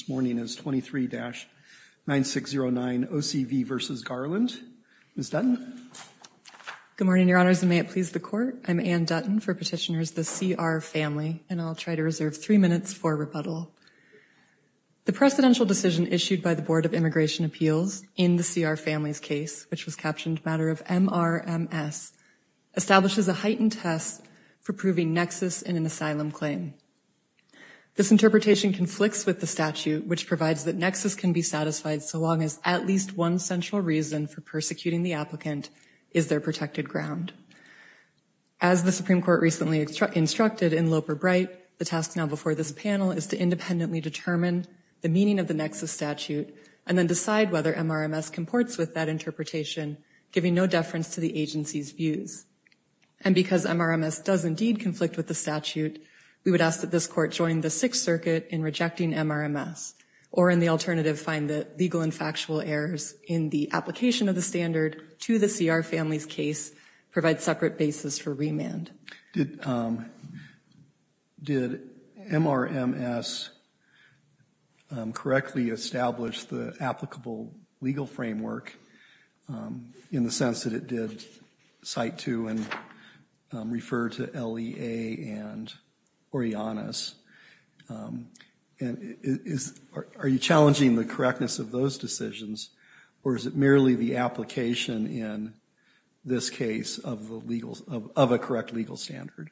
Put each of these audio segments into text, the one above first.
This morning is 23-9609 O.C.V. v. Garland. Ms. Dutton. Good morning, Your Honors, and may it please the Court. I'm Anne Dutton for Petitioners, the C.R. Family, and I'll try to reserve three minutes for rebuttal. The precedential decision issued by the Board of Immigration Appeals in the C.R. Family's case, which was captioned matter of M.R.M.S., establishes a heightened test for proving nexus in an asylum claim. This interpretation conflicts with the statute, which provides that nexus can be satisfied so long as at least one central reason for persecuting the applicant is their protected ground. As the Supreme Court recently instructed in Loper-Bright, the task now before this panel is to independently determine the meaning of the nexus statute and then decide whether M.R.M.S. comports with that interpretation, giving no deference to the agency's views. And because M.R.M.S. does indeed conflict with the statute, we would ask that this Court join the Sixth Circuit in rejecting M.R.M.S. Or in the alternative, find the legal and factual errors in the application of the standard to the C.R. Family's case provide separate basis for remand. Did M.R.M.S. correctly establish the applicable legal framework in the sense that it did cite to and refer to LEA and Orianas? Are you challenging the correctness of those decisions, or is it merely the application in this case of a correct legal standard?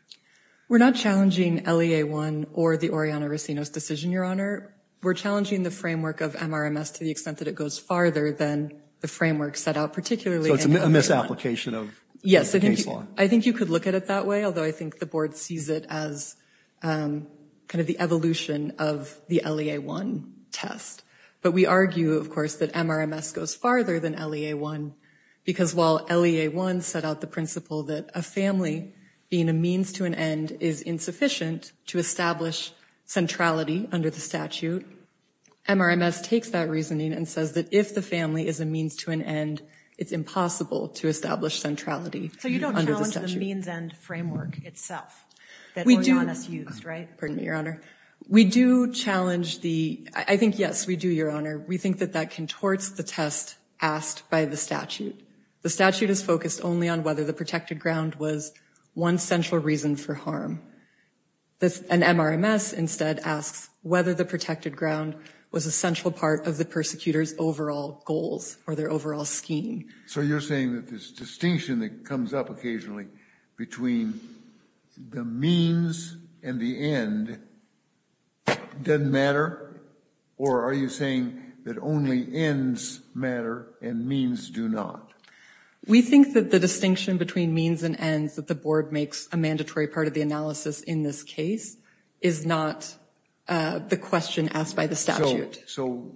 We're not challenging LEA-1 or the Oriana-Racinos decision, Your Honor. We're challenging the framework of M.R.M.S. to the extent that it goes farther than the framework set out, particularly in LEA-1. So it's a misapplication of M.R.M.S.? Yes. I think you could look at it that way, although I think the Board sees it as kind of the evolution of the LEA-1 test. But we argue, of course, that M.R.M.S. goes farther than LEA-1, because while LEA-1 set out the principle that a family being a means to an end is insufficient to establish centrality under the statute, M.R.M.S. takes that reasoning and says that if the family is a means to an end, it's impossible to establish centrality under the statute. So you don't challenge the means-end framework itself that Oriana's used, right? Pardon me, Your Honor. We do challenge the—I think, yes, we do, Your Honor. We think that that contorts the test asked by the statute. The statute is focused only on whether the protected ground was one central reason for harm. An M.R.M.S. instead asks whether the protected ground was a central part of the persecutor's overall goals or their overall scheme. So you're saying that this distinction that comes up occasionally between the means and the end doesn't matter? Or are you saying that only ends matter and means do not? We think that the distinction between means and ends that the Board makes a mandatory part of the analysis in this case is not the question asked by the statute. So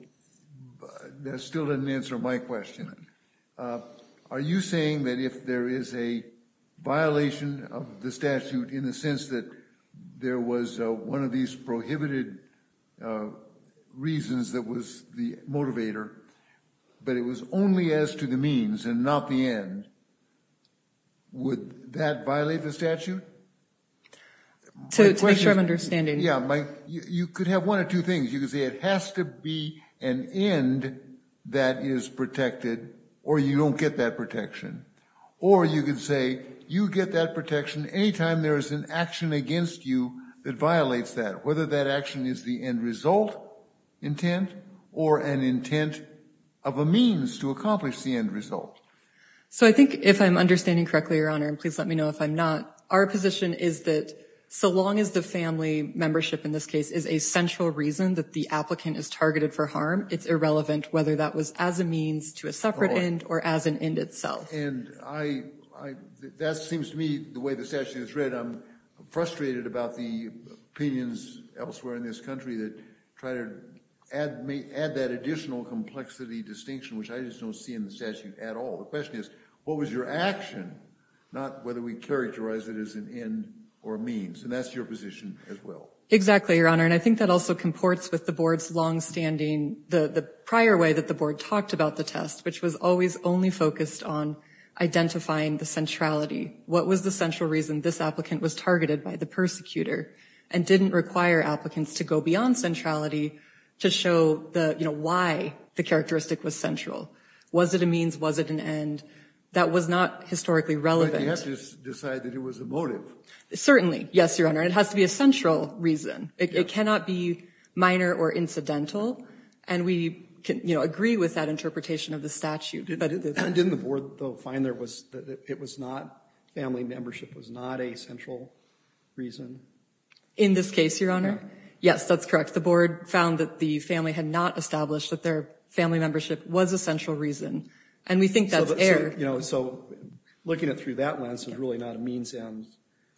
that still doesn't answer my question. Are you saying that if there is a violation of the statute in the sense that there was one of these prohibited reasons that was the motivator, but it was only as to the means and not the end, would that violate the statute? To make sure I'm understanding. Yeah, you could have one of two things. You could say it has to be an end that is protected or you don't get that protection. Or you could say you get that protection any time there is an action against you that violates that, whether that action is the end result intent or an intent of a means to accomplish the end result. So I think if I'm understanding correctly, Your Honor, and please let me know if I'm not, our position is that so long as the family membership in this case is a central reason that the applicant is targeted for harm, it's irrelevant whether that was as a means to a separate end or as an end itself. And I, that seems to me the way the statute is read, I'm frustrated about the opinions elsewhere in this country that try to add that additional complexity distinction, which I just don't see in the statute at all. The question is, what was your action, not whether we characterize it as an end or means. And that's your position as well. Exactly, Your Honor. And I think that also comports with the board's longstanding, the prior way that the board talked about the test, which was always only focused on identifying the centrality. What was the central reason this applicant was targeted by the persecutor and didn't require applicants to go beyond centrality to show the, you know, why the characteristic was central? Was it a means? Was it an end? That was not historically relevant. But you have to decide that it was a motive. Certainly. Yes, Your Honor. It has to be a central reason. It cannot be minor or incidental. And we can, you know, agree with that interpretation of the statute. Didn't the board, though, find there was, it was not, family membership was not a central reason? In this case, Your Honor? Yes, that's correct. The board found that the family had not established that their family membership was a central reason. And we think that's air. So, you know, so looking at it through that lens is really not a means and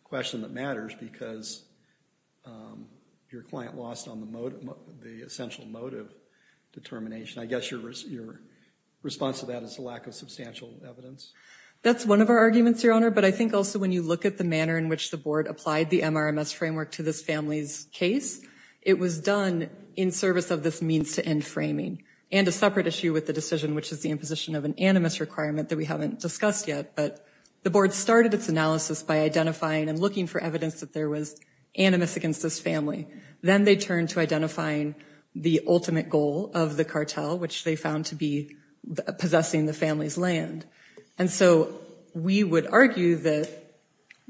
question that matters because your client lost on the essential motive determination. I guess your response to that is a lack of substantial evidence. That's one of our arguments, Your Honor. But I think also when you look at the manner in which the board applied the MRMS framework to this family's case, it was done in service of this means to end framing. And a separate issue with the decision, which is the imposition of an animus requirement that we haven't discussed yet, but the board started its analysis by identifying and looking for evidence that there was animus against this family. Then they turned to identifying the ultimate goal of the cartel, which they found to be possessing the family's land. And so we would argue that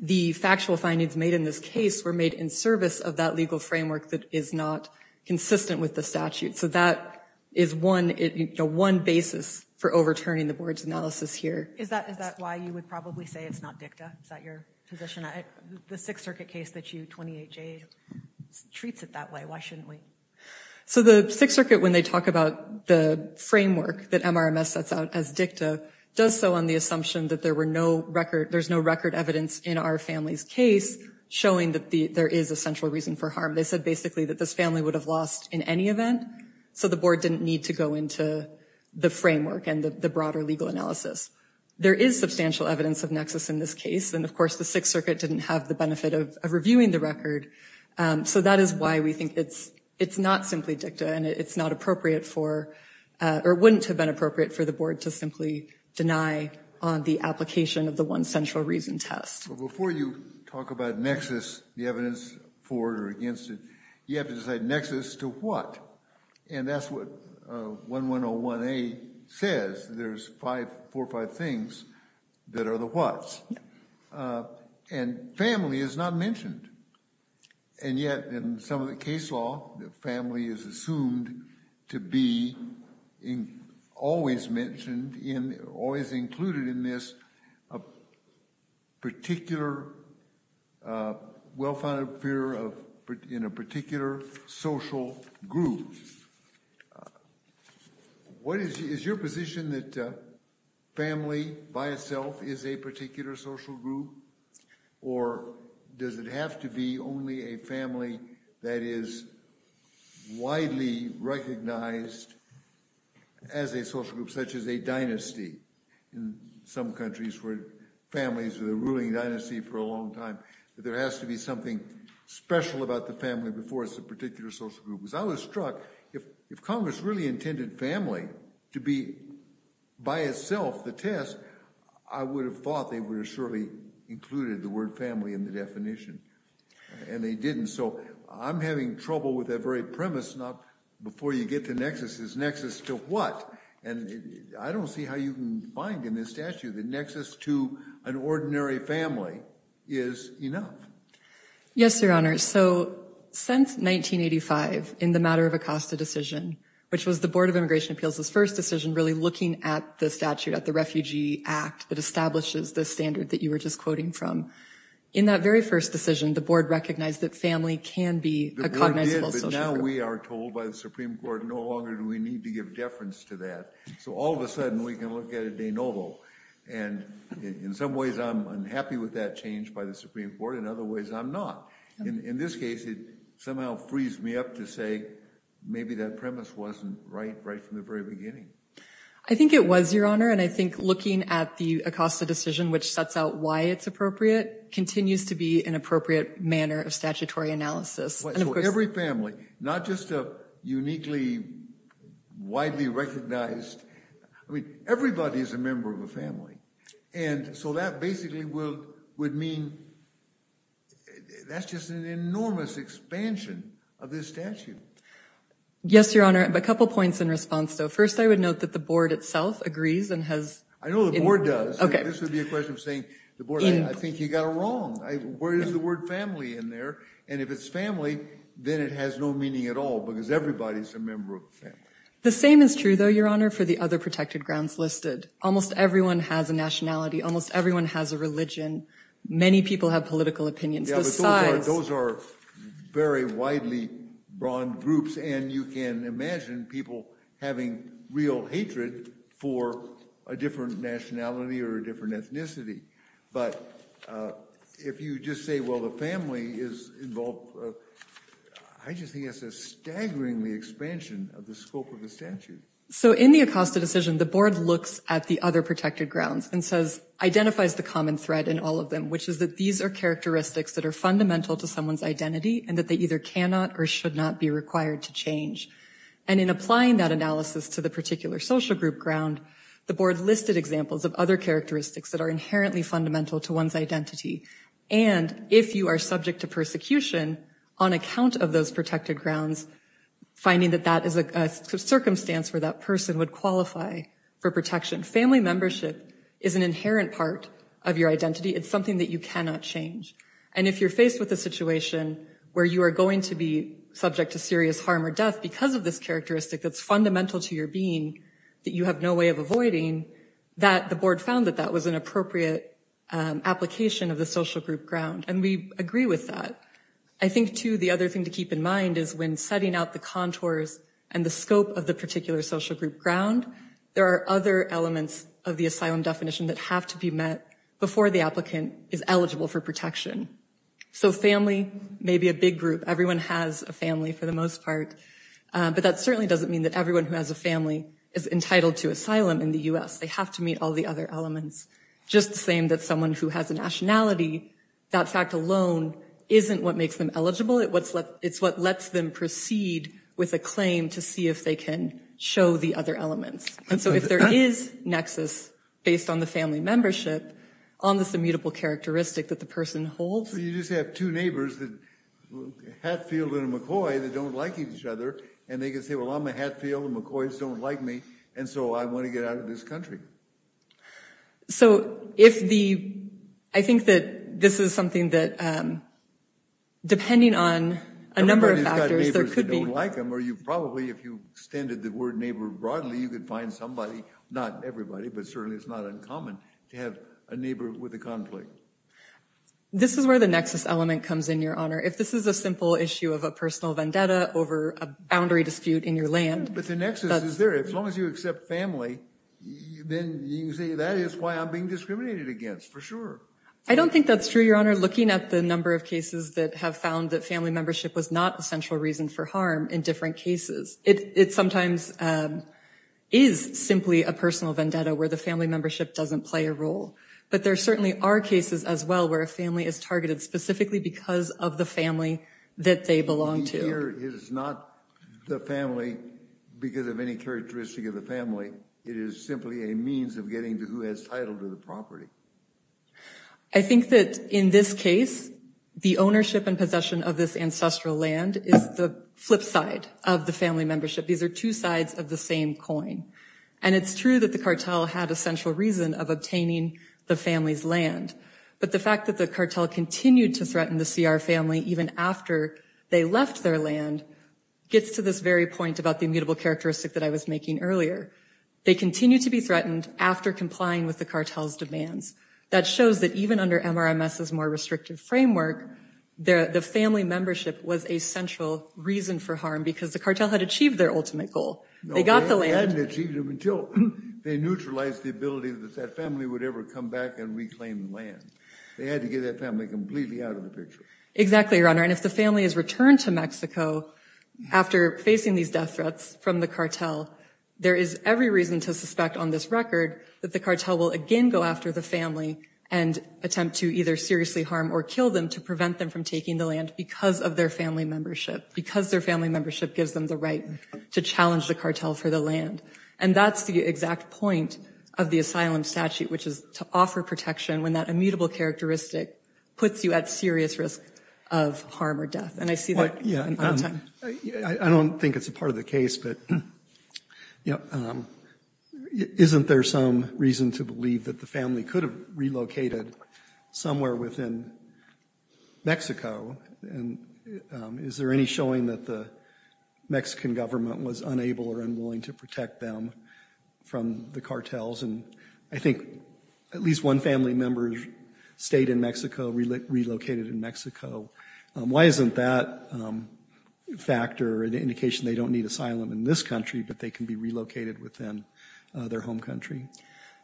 the factual findings made in this case were made in service of that legal framework that is not consistent with the statute. So that is one, you know, one basis for overturning the board's analysis here. Is that why you would probably say it's not dicta? Is that your position? The Sixth Circuit case that you, 28J, treats it that way, why shouldn't we? So the Sixth Circuit, when they talk about the framework that MRMS sets out as dicta, does so on the assumption that there's no record evidence in our family's case showing that there is a central reason for harm. They said basically that this family would have lost in any event, so the board didn't need to go into the framework and the broader legal analysis. There is substantial evidence of nexus in this case, and of course the Sixth Circuit didn't have the benefit of reviewing the record. So that is why we think it's not simply dicta and it's not appropriate for, or wouldn't have been appropriate for the board to simply deny on the application of the one central reason test. But before you talk about nexus, the evidence for or against it, you have to decide nexus to what? And that's what 1101A says, there's five, four or five things that are the what's. And family is not mentioned. And yet in some of the case law, the family is assumed to be always mentioned, always included in this particular well-founded fear of in a particular social group. What is your position that family by itself is a particular social group? Or does it have to be only a family that is widely recognized as a social group, such as a dynasty? In some countries where families are the ruling dynasty for a long time, that there has to be something special about the family before it's a particular social group. Because I was struck, if Congress really intended family to be by itself the test, I would have thought they would have surely included the word family in the definition. And they didn't. So I'm having trouble with that very premise, not before you get to nexus, is nexus to what? And I don't see how you can find in this statute that nexus to an ordinary family is enough. Yes, Your Honor. So since 1985, in the matter of Acosta decision, which was the Board of Immigration Appeals' first decision really looking at the statute, at the Refugee Act that establishes the standard that you were just quoting from. In that very first decision, the board recognized that family can be a cognizable social group. Now we are told by the Supreme Court, no longer do we need to give deference to that. So all of a sudden, we can look at it de novo. And in some ways, I'm unhappy with that change by the Supreme Court, in other ways, I'm not. In this case, it somehow frees me up to say, maybe that premise wasn't right, right from the very beginning. I think it was, Your Honor. And I think looking at the Acosta decision, which sets out why it's appropriate, continues to be an appropriate manner of statutory analysis. So every family, not just a uniquely, widely recognized, I mean, everybody is a member of a family. And so that basically would mean, that's just an enormous expansion of this statute. Yes, Your Honor, I have a couple points in response, though. First, I would note that the board itself agrees and has... I know the board does. Okay. This would be a question of saying, the board, I think you got it wrong. Where is the word family in there? And if it's family, then it has no meaning at all, because everybody's a member of the family. The same is true, though, Your Honor, for the other protected grounds listed. Almost everyone has a nationality, almost everyone has a religion, many people have political opinions. Yeah, but those are very widely broad groups, and you can imagine people having real hatred for a different nationality or a different ethnicity. But if you just say, well, the family is involved, I just think that's a staggeringly expansion of the scope of the statute. So in the Acosta decision, the board looks at the other protected grounds and identifies the common thread in all of them, which is that these are characteristics that are fundamental to someone's identity and that they either cannot or should not be required to change. And in applying that analysis to the particular social group ground, the board listed examples of other characteristics that are inherently fundamental to one's identity. And if you are subject to persecution on account of those protected grounds, finding that that is a circumstance where that person would qualify for protection. Family membership is an inherent part of your identity. It's something that you cannot change. And if you're faced with a situation where you are going to be subject to serious harm or death because of this characteristic that's fundamental to your being that you have no way of avoiding, that the board found that that was an appropriate application of the social group ground. And we agree with that. I think, too, the other thing to keep in mind is when setting out the contours and the scope of the particular social group ground, there are other elements of the asylum definition that have to be met before the applicant is eligible for protection. So family may be a big group. Everyone has a family for the most part, but that certainly doesn't mean that everyone who has a family is entitled to asylum in the U.S. They have to meet all the other elements. Just the same that someone who has a nationality, that fact alone isn't what makes them eligible. It's what lets them proceed with a claim to see if they can show the other elements. And so if there is nexus based on the family membership on this immutable characteristic that the person holds. So you just have two neighbors, Hatfield and McCoy, that don't like each other, and they can say, well, I'm a Hatfield, and McCoy's don't like me, and so I want to get out of this country. So if the, I think that this is something that, depending on a number of factors, there could be. Everybody's got neighbors that don't like them, or you probably, if you extended the word neighbor broadly, you could find somebody, not everybody, but certainly it's not uncommon to have a neighbor with a conflict. This is where the nexus element comes in, Your Honor. If this is a simple issue of a personal vendetta over a boundary dispute in your land. But the nexus is there. As long as you accept family, then you can say, that is why I'm being discriminated against, for sure. I don't think that's true, Your Honor. Looking at the number of cases that have found that family membership was not a central reason for harm in different cases, it sometimes is simply a personal vendetta where the family membership doesn't play a role. But there certainly are cases as well where a family is targeted specifically because of the family that they belong to. The neighbor is not the family because of any characteristic of the family. It is simply a means of getting to who has title to the property. I think that in this case, the ownership and possession of this ancestral land is the flip side of the family membership. These are two sides of the same coin. And it's true that the cartel had a central reason of obtaining the family's land. But the fact that the cartel continued to threaten the CR family even after they left their land gets to this very point about the immutable characteristic that I was making earlier. They continue to be threatened after complying with the cartel's demands. That shows that even under MRMS's more restrictive framework, the family membership was a central reason for harm because the cartel had achieved their ultimate goal. They got the land. No, they hadn't achieved it until they neutralized the ability that that family would ever come back and reclaim the land. They had to get that family completely out of the picture. Exactly, Your Honor. And if the family is returned to Mexico after facing these death threats from the cartel, there is every reason to suspect on this record that the cartel will again go after the family and attempt to either seriously harm or kill them to prevent them from taking the land because of their family membership. Because their family membership gives them the right to challenge the cartel for the land. And that's the exact point of the asylum statute, which is to offer protection when that immutable characteristic puts you at serious risk of harm or death. And I see that. I don't think it's a part of the case, but isn't there some reason to believe that the family could have relocated somewhere within Mexico? And is there any showing that the Mexican government was unable or unwilling to protect them from the cartels? And I think at least one family member stayed in Mexico, relocated in Mexico. Why isn't that a factor, an indication they don't need asylum in this country, but they can be relocated within their home country?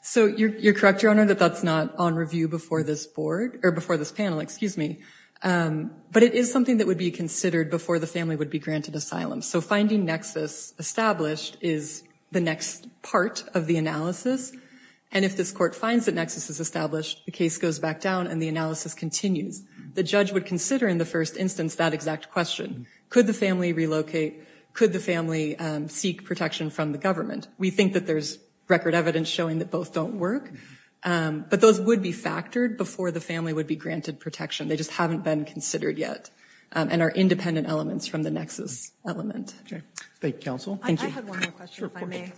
So you're correct, Your Honor, that that's not on review before this board or before this panel, excuse me. But it is something that would be considered before the family would be granted asylum. So finding nexus established is the next part of the analysis. And if this court finds that nexus is established, the case goes back down and the analysis continues. The judge would consider in the first instance that exact question. Could the family relocate? Could the family seek protection from the government? We think that there's record evidence showing that both don't work. But those would be factored before the family would be granted protection. They just haven't been considered yet and are independent elements from the nexus element. Thank you, counsel. Thank you. I have one more question, if I may.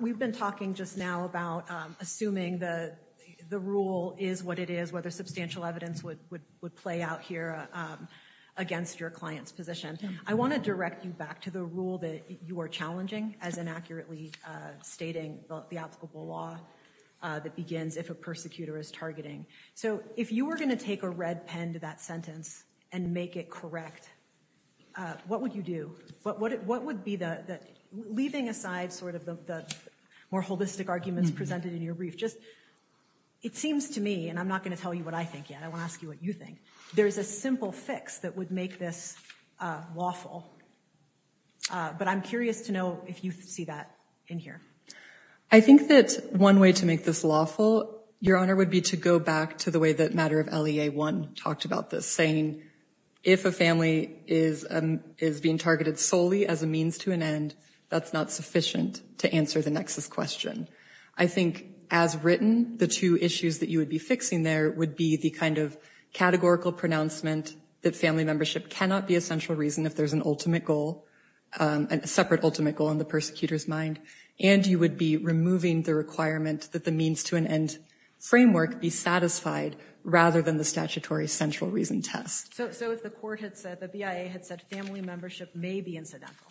We've been talking just now about assuming the rule is what it is, whether substantial evidence would play out here against your client's position. I want to direct you back to the rule that you are challenging as inaccurately stating the applicable law that begins if a persecutor is targeting. So if you were going to take a red pen to that sentence and make it correct, what would you do? What would be the, leaving aside sort of the more holistic arguments presented in your brief, just, it seems to me, and I'm not going to tell you what I think yet, I want to ask you what you think, there's a simple fix that would make this lawful. But I'm curious to know if you see that in here. I think that one way to make this lawful, Your Honor, would be to go back to the way that Matter of LEA 1 talked about this, saying if a family is being targeted solely as a means to an end, that's not sufficient to answer the nexus question. I think as written, the two issues that you would be fixing there would be the kind of categorical pronouncement that family membership cannot be a central reason if there's an ultimate goal, a separate ultimate goal in the persecutor's mind, and you would be removing the requirement that the means to an end framework be satisfied rather than the statutory central reason test. So if the court had said, the BIA had said family membership may be incidental,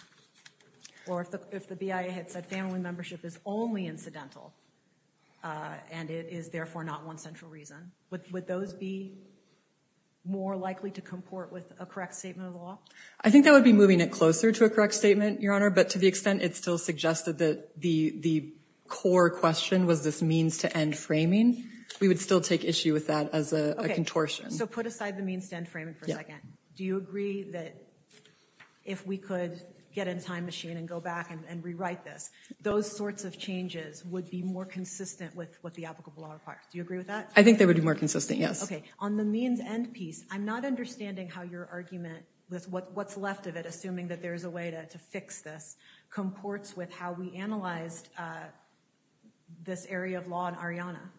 or if the BIA had said family membership is only incidental and it is therefore not one central reason, would those be more likely to comport with a correct statement of the law? I think that would be moving it closer to a correct statement, Your Honor, but to the extent it still suggested that the core question was this means to end framing, we would still take issue with that as a contortion. So put aside the means to end framing for a second. Do you agree that if we could get a time machine and go back and rewrite this, those sorts of changes would be more consistent with what the applicable law requires? Do you agree with that? I think they would be more consistent, yes. Okay. On the means end piece, I'm not understanding how your argument with what's left of it, assuming that there's a way to fix this, comports with how we analyzed this area of law in Arianna.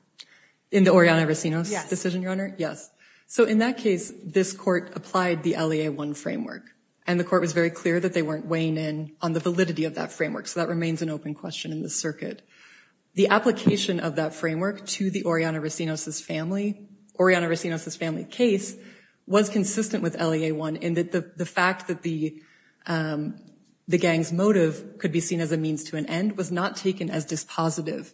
In the Arianna Racinos decision, Your Honor? Yes. So in that case, this court applied the LEA 1 framework, and the court was very clear that they weren't weighing in on the validity of that framework, so that remains an open question in the circuit. The application of that framework to the Arianna Racinos's family case was consistent with LEA 1 in that the fact that the gang's motive could be seen as a means to an end was not taken as dispositive.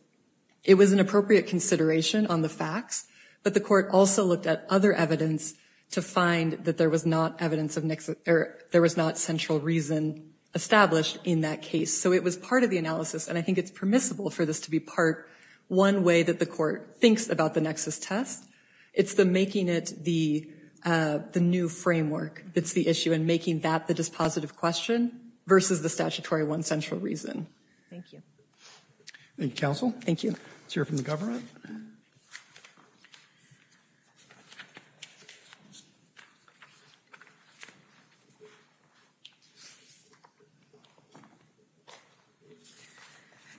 It was an appropriate consideration on the facts, but the court also looked at other evidence to find that there was not central reason established in that case. So it was part of the analysis, and I think it's permissible for this to be part one way that the court thinks about the nexus test. It's the making it the new framework that's the issue, and making that the dispositive question versus the statutory one central reason. Thank you. Thank you, counsel. Thank you. Let's hear from the government.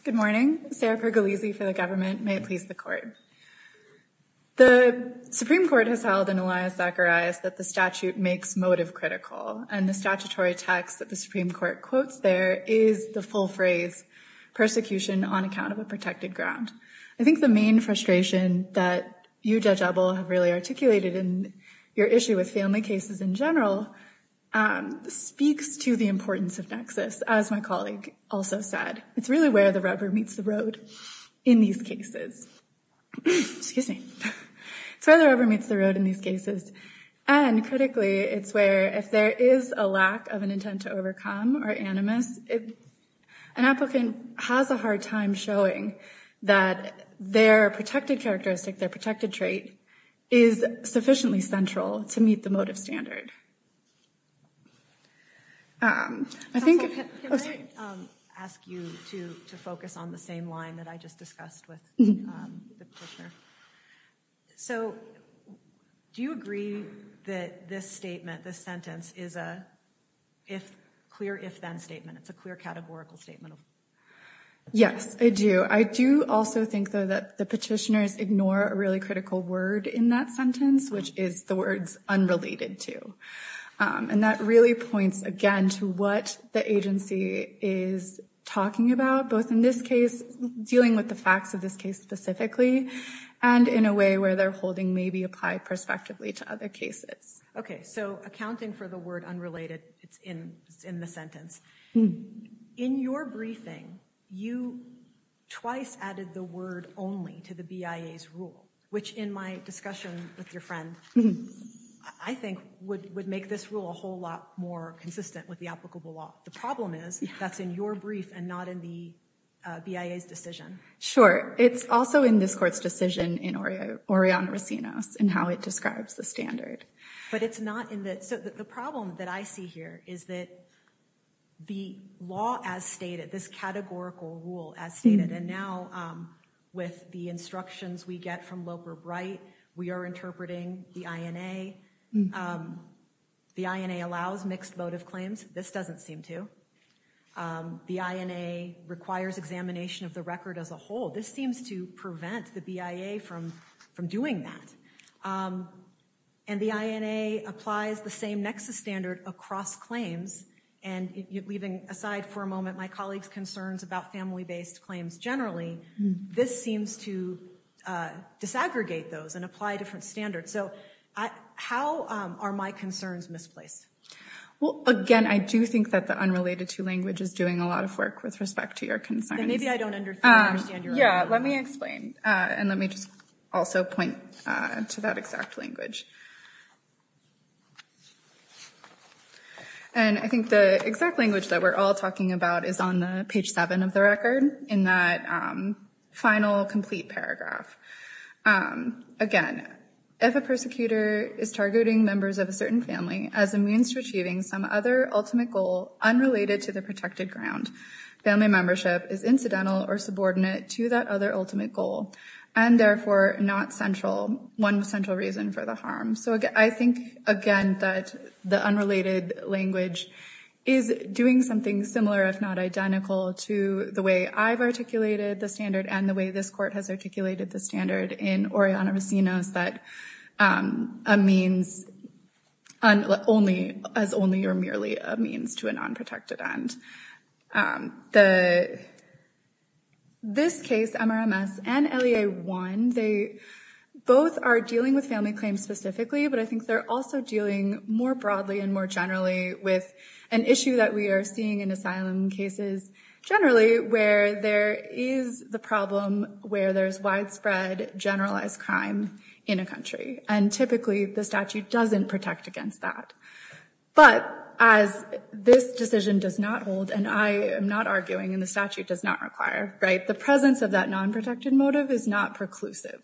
Good morning. Sarah Pergolesi for the government, may it please the court. The Supreme Court has held in Elias Zacharias that the statute makes motive critical, and the statutory text that the Supreme Court quotes there is the full phrase, persecution on account of a protected ground. I think the main frustration that you, Judge Ebel, have really articulated in your issue with family cases in general, speaks to the importance of nexus, as my colleague also said. It's really where the rubber meets the road in these cases, and critically, it's where if there is a lack of an intent to overcome or animus, an applicant has a hard time showing that their protected characteristic, their protected trait, is sufficiently central to meet the motive standard. Counsel, can I ask you to focus on the same line that I just discussed with the petitioner? So do you agree that this statement, this sentence, is a clear if-then statement? It's a clear categorical statement? Yes, I do. I do also think, though, that the petitioners ignore a really critical word in that sentence, which is the words unrelated to. And that really points, again, to what the agency is talking about, both in this case, dealing with the facts of this case specifically, and in a way where they're holding maybe applied prospectively to other cases. Okay, so accounting for the word unrelated, it's in the sentence. In your briefing, you twice added the word only to the BIA's rule, which in my discussion with your friend, I think would make this rule a whole lot more consistent with the applicable law. The problem is, that's in your brief and not in the BIA's decision. Sure. It's also in this court's decision in Orion Racinos, in how it describes the standard. So the problem that I see here is that the law as stated, this categorical rule as stated, and now with the instructions we get from Loper-Bright, we are interpreting the INA. The INA allows mixed motive claims. This doesn't seem to. The INA requires examination of the record as a whole. This seems to prevent the BIA from doing that. And the INA applies the same nexus standard across claims. And leaving aside for a moment my colleague's concerns about family-based claims generally, this seems to disaggregate those and apply different standards. So how are my concerns misplaced? Well, again, I do think that the unrelated to language is doing a lot of work with respect to your concerns. Maybe I don't understand your argument. Let me explain. And let me just also point to that exact language. And I think the exact language that we're all talking about is on page 7 of the record, in that final complete paragraph. Again, if a persecutor is targeting members of a certain family as a means to achieving some other ultimate goal unrelated to the protected ground, family membership is incidental or subordinate to that other ultimate goal, and therefore not central, one central reason for the harm. So I think, again, that the unrelated language is doing something similar, if not identical, to the way I've articulated the standard and the way this Court has articulated the standard in Oriana Racino's that a means as only or merely a means to a non-protected end. This case, MRMS and LEA-1, they both are dealing with family claims specifically, but I think they're also dealing more broadly and more generally with an issue that we are seeing in asylum cases generally, where there is the problem where there's widespread generalized crime in a country. And typically, the statute doesn't protect against that. But as this decision does not hold, and I am not arguing and the statute does not require, right, the presence of that non-protected motive is not preclusive.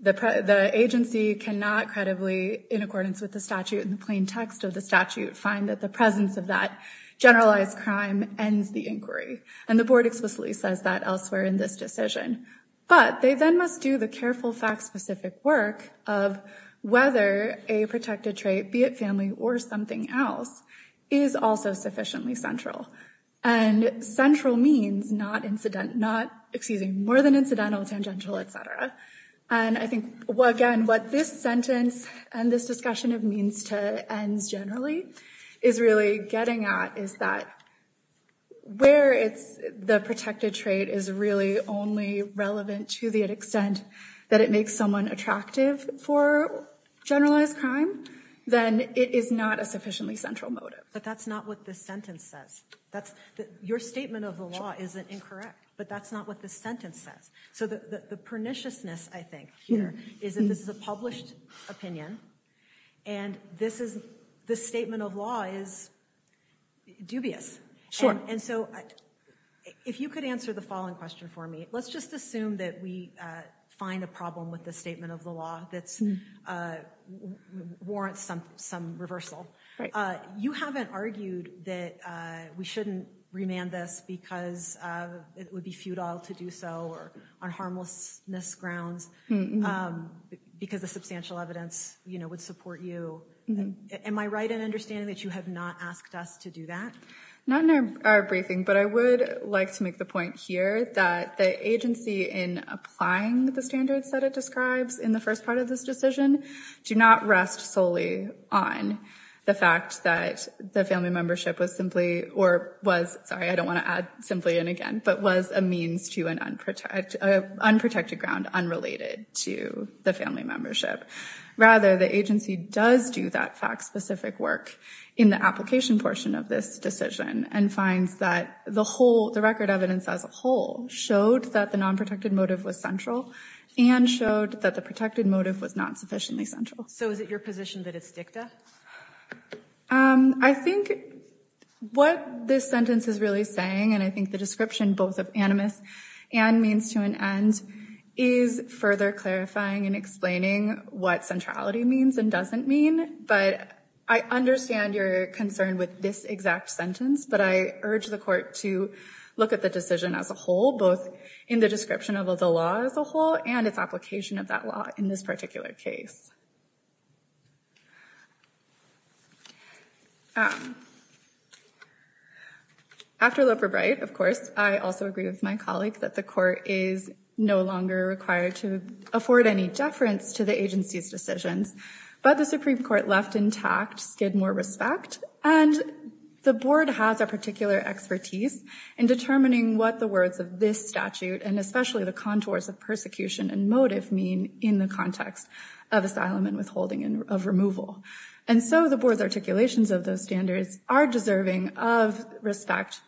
The agency cannot credibly, in accordance with the statute and the plain text of the statute, find that the presence of that generalized crime ends the inquiry. And the Board explicitly says that elsewhere in this decision. But they then must do the careful, fact-specific work of whether a protected trait, be it family or something else, is also sufficiently central. And central means not incident, not, excuse me, more than incidental, tangential, et cetera. And I think, again, what this sentence and this discussion of means to ends generally is really getting at is that where the protected trait is really only relevant to the extent that it makes someone attractive for generalized crime, then it is not a sufficiently central motive. But that's not what this sentence says. Your statement of the law isn't incorrect. But that's not what this sentence says. So the perniciousness, I think, here is that this is a published opinion. And this statement of law is dubious. Sure. And so if you could answer the following question for me, let's just assume that we find a problem with the statement of the law that warrants some reversal. You haven't argued that we shouldn't remand this because it would be futile to do so or on harmlessness grounds because the substantial evidence would support you. Am I right in understanding that you have not asked us to do that? Not in our briefing. But I would like to make the point here that the agency in applying the standards that it describes in the first part of this decision do not rest solely on the fact that the family membership was simply or was, sorry, I don't want to add simply and again, but was a means to an unprotected ground unrelated to the family membership. Rather, the agency does do that fact-specific work in the application portion of this decision and finds that the record evidence as a whole showed that the nonprotected motive was central and showed that the protected motive was not sufficiently central. So is it your position that it's dicta? I think what this sentence is really saying, and I think the description both of animus and means to an end is further clarifying and explaining what centrality means and doesn't mean. But I understand your concern with this exact sentence. But I urge the court to look at the decision as a whole, both in the description of the law as a whole and its application of that law in this particular case. After Loper-Bright, of course, I also agree with my colleague that the court is no longer required to afford any deference to the agency's decisions. But the Supreme Court left intact Skidmore respect. And the board has a particular expertise in determining what the words of this statute and especially the contours of persecution and motive mean in the context of asylum and withholding of removal. And so the board's articulations of those standards are deserving of respect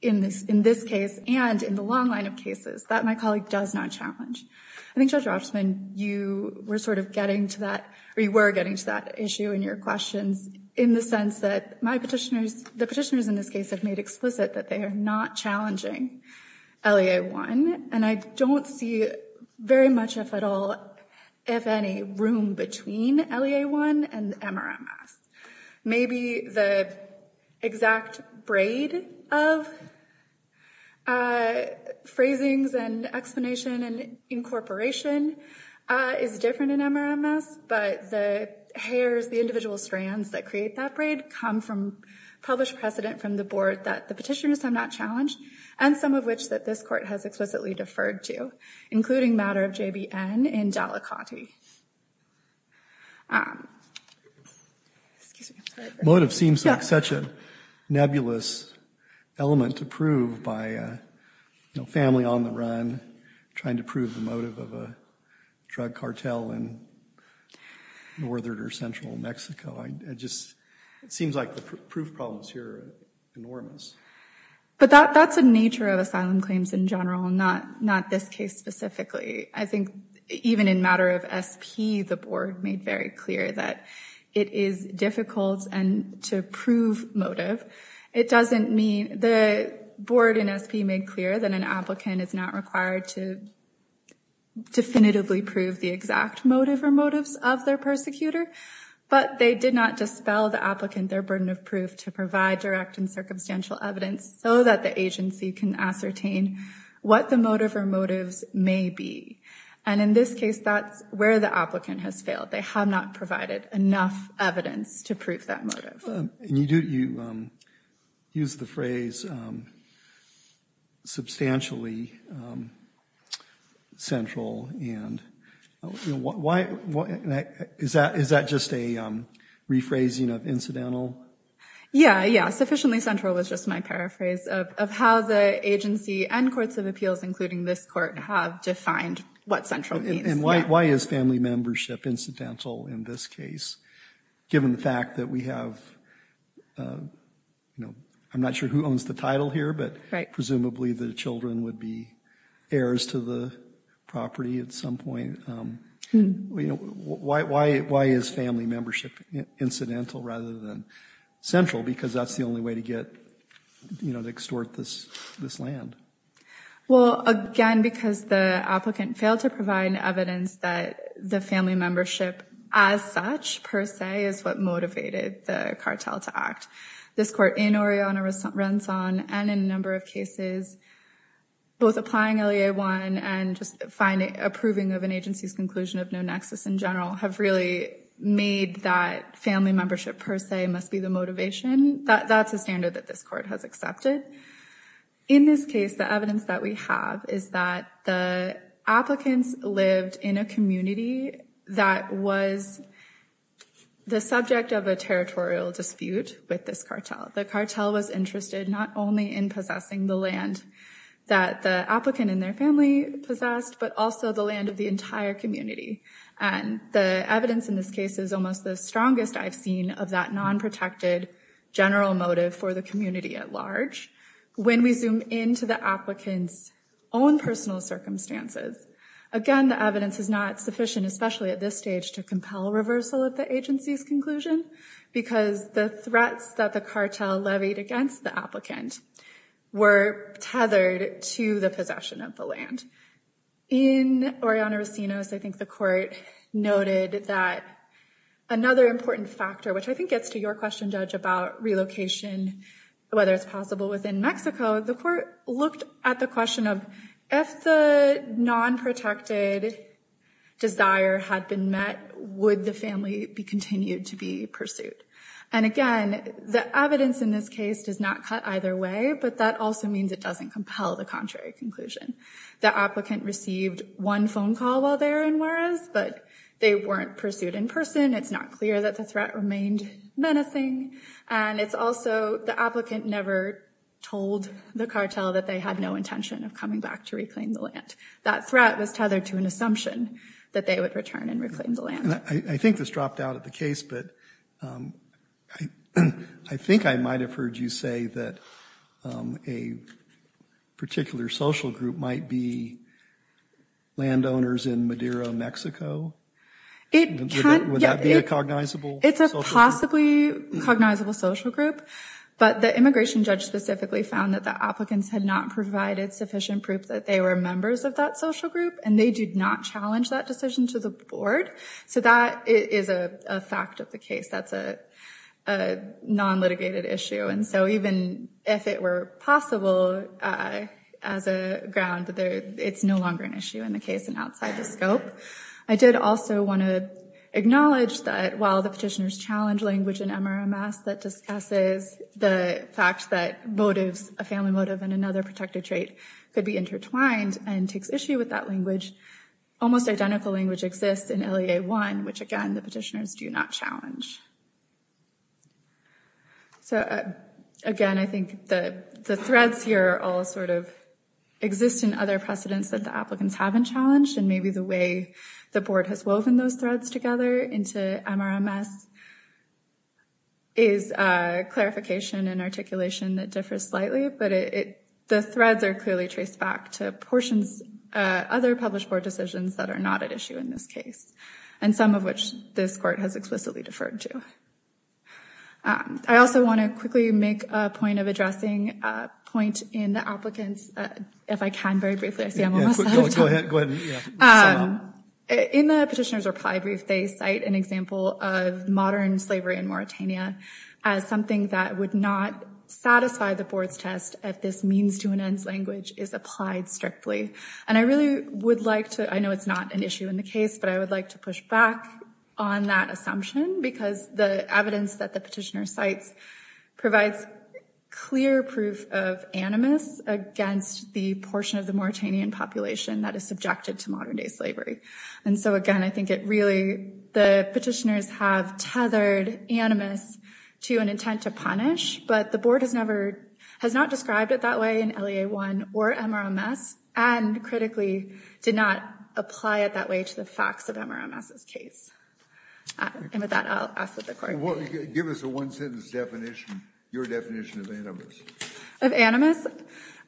in this case and in the long line of cases that my colleague does not challenge. I think, Judge Rochman, you were getting to that issue in your questions in the sense that the petitioners in this case have made explicit that they are not challenging LEA-1. And I don't see very much, if at all, if any, room between LEA-1 and MRMS. Maybe the exact braid of phrasings and explanation and incorporation is different in MRMS. But the hairs, the individual strands that create that braid come from published precedent from the board that the petitioners have not challenged and some of which that this court has explicitly deferred to, including matter of JBN in Delicati. Motive seems like such a nebulous element to prove by a family on the run trying to prove the motive of a drug cartel in northern or central Mexico. It seems like the proof problems here are enormous. But that's the nature of asylum claims in general, not this case specifically. I think even in matter of SP, the board made very clear that it is difficult to prove motive. The board in SP made clear that an applicant is not required to definitively prove the exact motive or motives of their persecutor. But they did not dispel the applicant their burden of proof to provide direct and circumstantial evidence so that the agency can ascertain what the motive or motives may be. And in this case, that's where the applicant has failed. They have not provided enough evidence to prove that motive. You use the phrase substantially central. Is that just a rephrasing of incidental? Yeah, yeah. Sufficiently central was just my paraphrase of how the agency and courts of appeals, including this court, have defined what central means. And why is family membership incidental in this case? Given the fact that we have, I'm not sure who owns the title here, but presumably the children would be heirs to the property at some point. Why is family membership incidental rather than central? Because that's the only way to extort this land. Well, again, because the applicant failed to provide evidence that the family membership as such per se is what motivated the cartel to act. This court in Oriana-Renzon and in a number of cases, both applying LEA-1 and just approving of an agency's conclusion of no nexus in general, have really made that family membership per se must be the motivation. That's a standard that this court has accepted. In this case, the evidence that we have is that the applicants lived in a community that was the subject of a territorial dispute with this cartel. The cartel was interested not only in possessing the land that the applicant and their family possessed, but also the land of the entire community. And the evidence in this case is almost the strongest I've seen of that non-protected general motive for the community at large. When we zoom into the applicant's own personal circumstances, again, the evidence is not sufficient, especially at this stage, to compel reversal of the agency's conclusion because the threats that the cartel levied against the applicant were tethered to the possession of the land. In Oriana-Renzon, I think the court noted that another important factor, which I think gets to your question, Judge, about relocation, whether it's possible within Mexico, the court looked at the question of if the non-protected desire had been met, would the family be continued to be pursued? And again, the evidence in this case does not cut either way, but that also means it doesn't compel the contrary conclusion. The applicant received one phone call while they were in Juarez, but they weren't pursued in person. It's not clear that the threat remained menacing, and it's also the applicant never told the cartel that they had no intention of coming back to reclaim the land. That threat was tethered to an assumption that they would return and reclaim the land. I think this dropped out of the case, but I think I might have heard you say that a particular social group might be landowners in Madero, Mexico. Would that be a cognizable social group? It's a possibly cognizable social group, but the immigration judge specifically found that the applicants had not provided sufficient proof that they were members of that social group, and they did not challenge that decision to the board. So that is a fact of the case. That's a non-litigated issue. And so even if it were possible as a ground, it's no longer an issue in the case and outside the scope. I did also want to acknowledge that while the petitioners challenge language in MRMS that discusses the fact that motives, a family motive and another protective trait could be intertwined and takes issue with that language, almost identical language exists in LEA-1, which, again, the petitioners do not challenge. So, again, I think the threads here all sort of exist in other precedents that the applicants haven't challenged, and maybe the way the board has woven those threads together into MRMS is clarification and articulation that differs slightly, but the threads are clearly traced back to portions, other published board decisions that are not at issue in this case, and some of which this court has explicitly deferred to. I also want to quickly make a point of addressing a point in the applicants, if I can very briefly, I see I'm almost out of time. Go ahead. In the petitioner's reply brief, they cite an example of modern slavery in Mauritania as something that would not satisfy the board's test if this means-to-an-ends language is applied strictly. And I really would like to, I know it's not an issue in the case, but I would like to push back on that assumption because the evidence that the portion of the Mauritanian population that is subjected to modern-day slavery. And so, again, I think it really, the petitioners have tethered animus to an intent to punish, but the board has never, has not described it that way in LEA-1 or MRMS, and critically did not apply it that way to the facts of MRMS's case. And with that, I'll ask that the court- Give us a one-sentence definition, your definition of animus.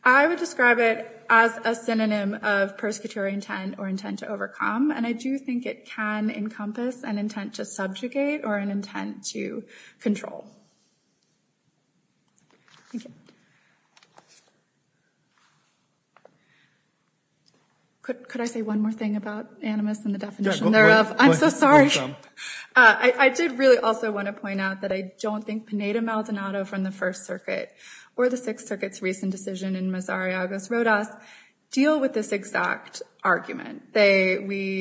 I would describe it as a synonym of persecutory intent or intent to overcome. And I do think it can encompass an intent to subjugate or an intent to control. Could I say one more thing about animus and the definition thereof? I'm so sorry. I did really also want to point out that I don't think Pineda Maldonado from the First Circuit or the Sixth Circuit's recent decision in Mazar-i-August Rodas deal with this exact argument. They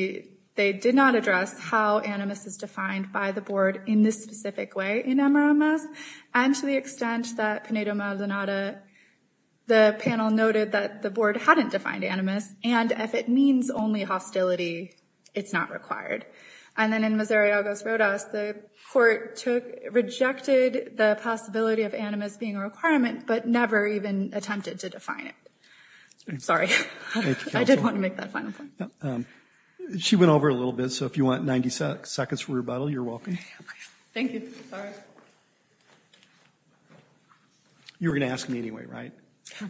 did not address how animus is defined by the board in this specific way in MRMS, and to the extent that Pineda Maldonado, the panel noted that the board hadn't defined animus, and if it means only hostility, it's not required. And then in Mazar-i-August Rodas, the court rejected the possibility of animus being a requirement, but never even attempted to define it. Sorry. I did want to make that final point. She went over a little bit, so if you want 90 seconds for rebuttal, you're welcome. Thank you. Sorry. You were going to ask me anyway, right?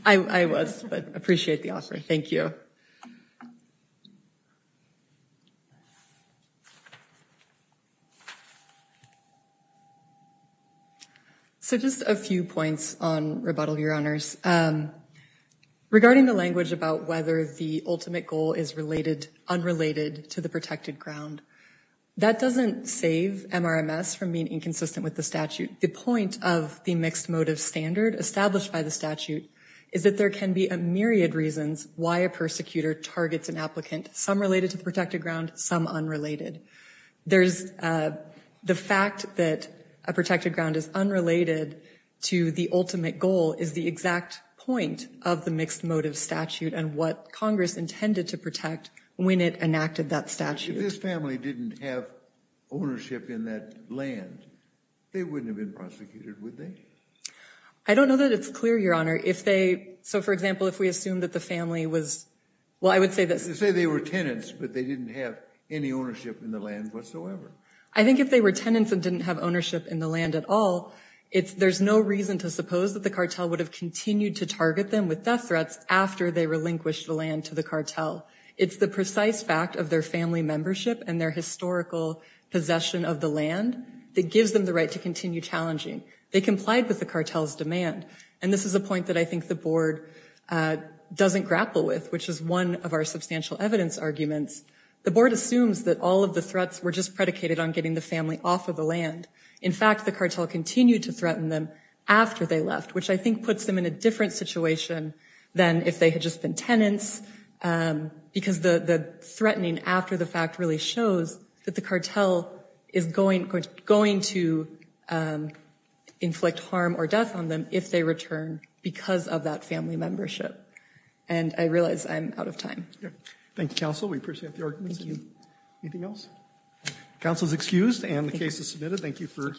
I was, but I appreciate the offer. Thank you. So just a few points on rebuttal, Your Honors. Regarding the language about whether the ultimate goal is related, unrelated to the protected ground, that doesn't save MRMS from being inconsistent with the statute. The point of the mixed motive standard established by the statute is that there can be a myriad reasons why a persecutor targets an applicant, some related to the protected ground, some unrelated. The fact that a protected ground is unrelated to the ultimate goal is the exact point of the mixed motive statute and what Congress intended to protect when it enacted that statute. If this family didn't have ownership in that land, they wouldn't have been prosecuted, would they? I don't know that it's clear, Your Honor. So, for example, if we assume that the family was, well, I would say this. Let's just say they were tenants, but they didn't have any ownership in the land whatsoever. I think if they were tenants and didn't have ownership in the land at all, there's no reason to suppose that the cartel would have continued to target them with death threats after they relinquished the land to the cartel. It's the precise fact of their family membership and their historical possession of the land that gives them the right to continue challenging. They complied with the cartel's demand. And this is a point that I think the board doesn't grapple with, which is one of our substantial evidence arguments. The board assumes that all of the threats were just predicated on getting the family off of the land. In fact, the cartel continued to threaten them after they left, which I think puts them in a different situation than if they had just been tenants because the threatening after the fact really shows that the cartel is going to inflict harm or death on them if they return because of that family membership. And I realize I'm out of time. Thank you, Counsel. We appreciate the arguments. Anything else? Counsel is excused and the case is submitted. Thank you.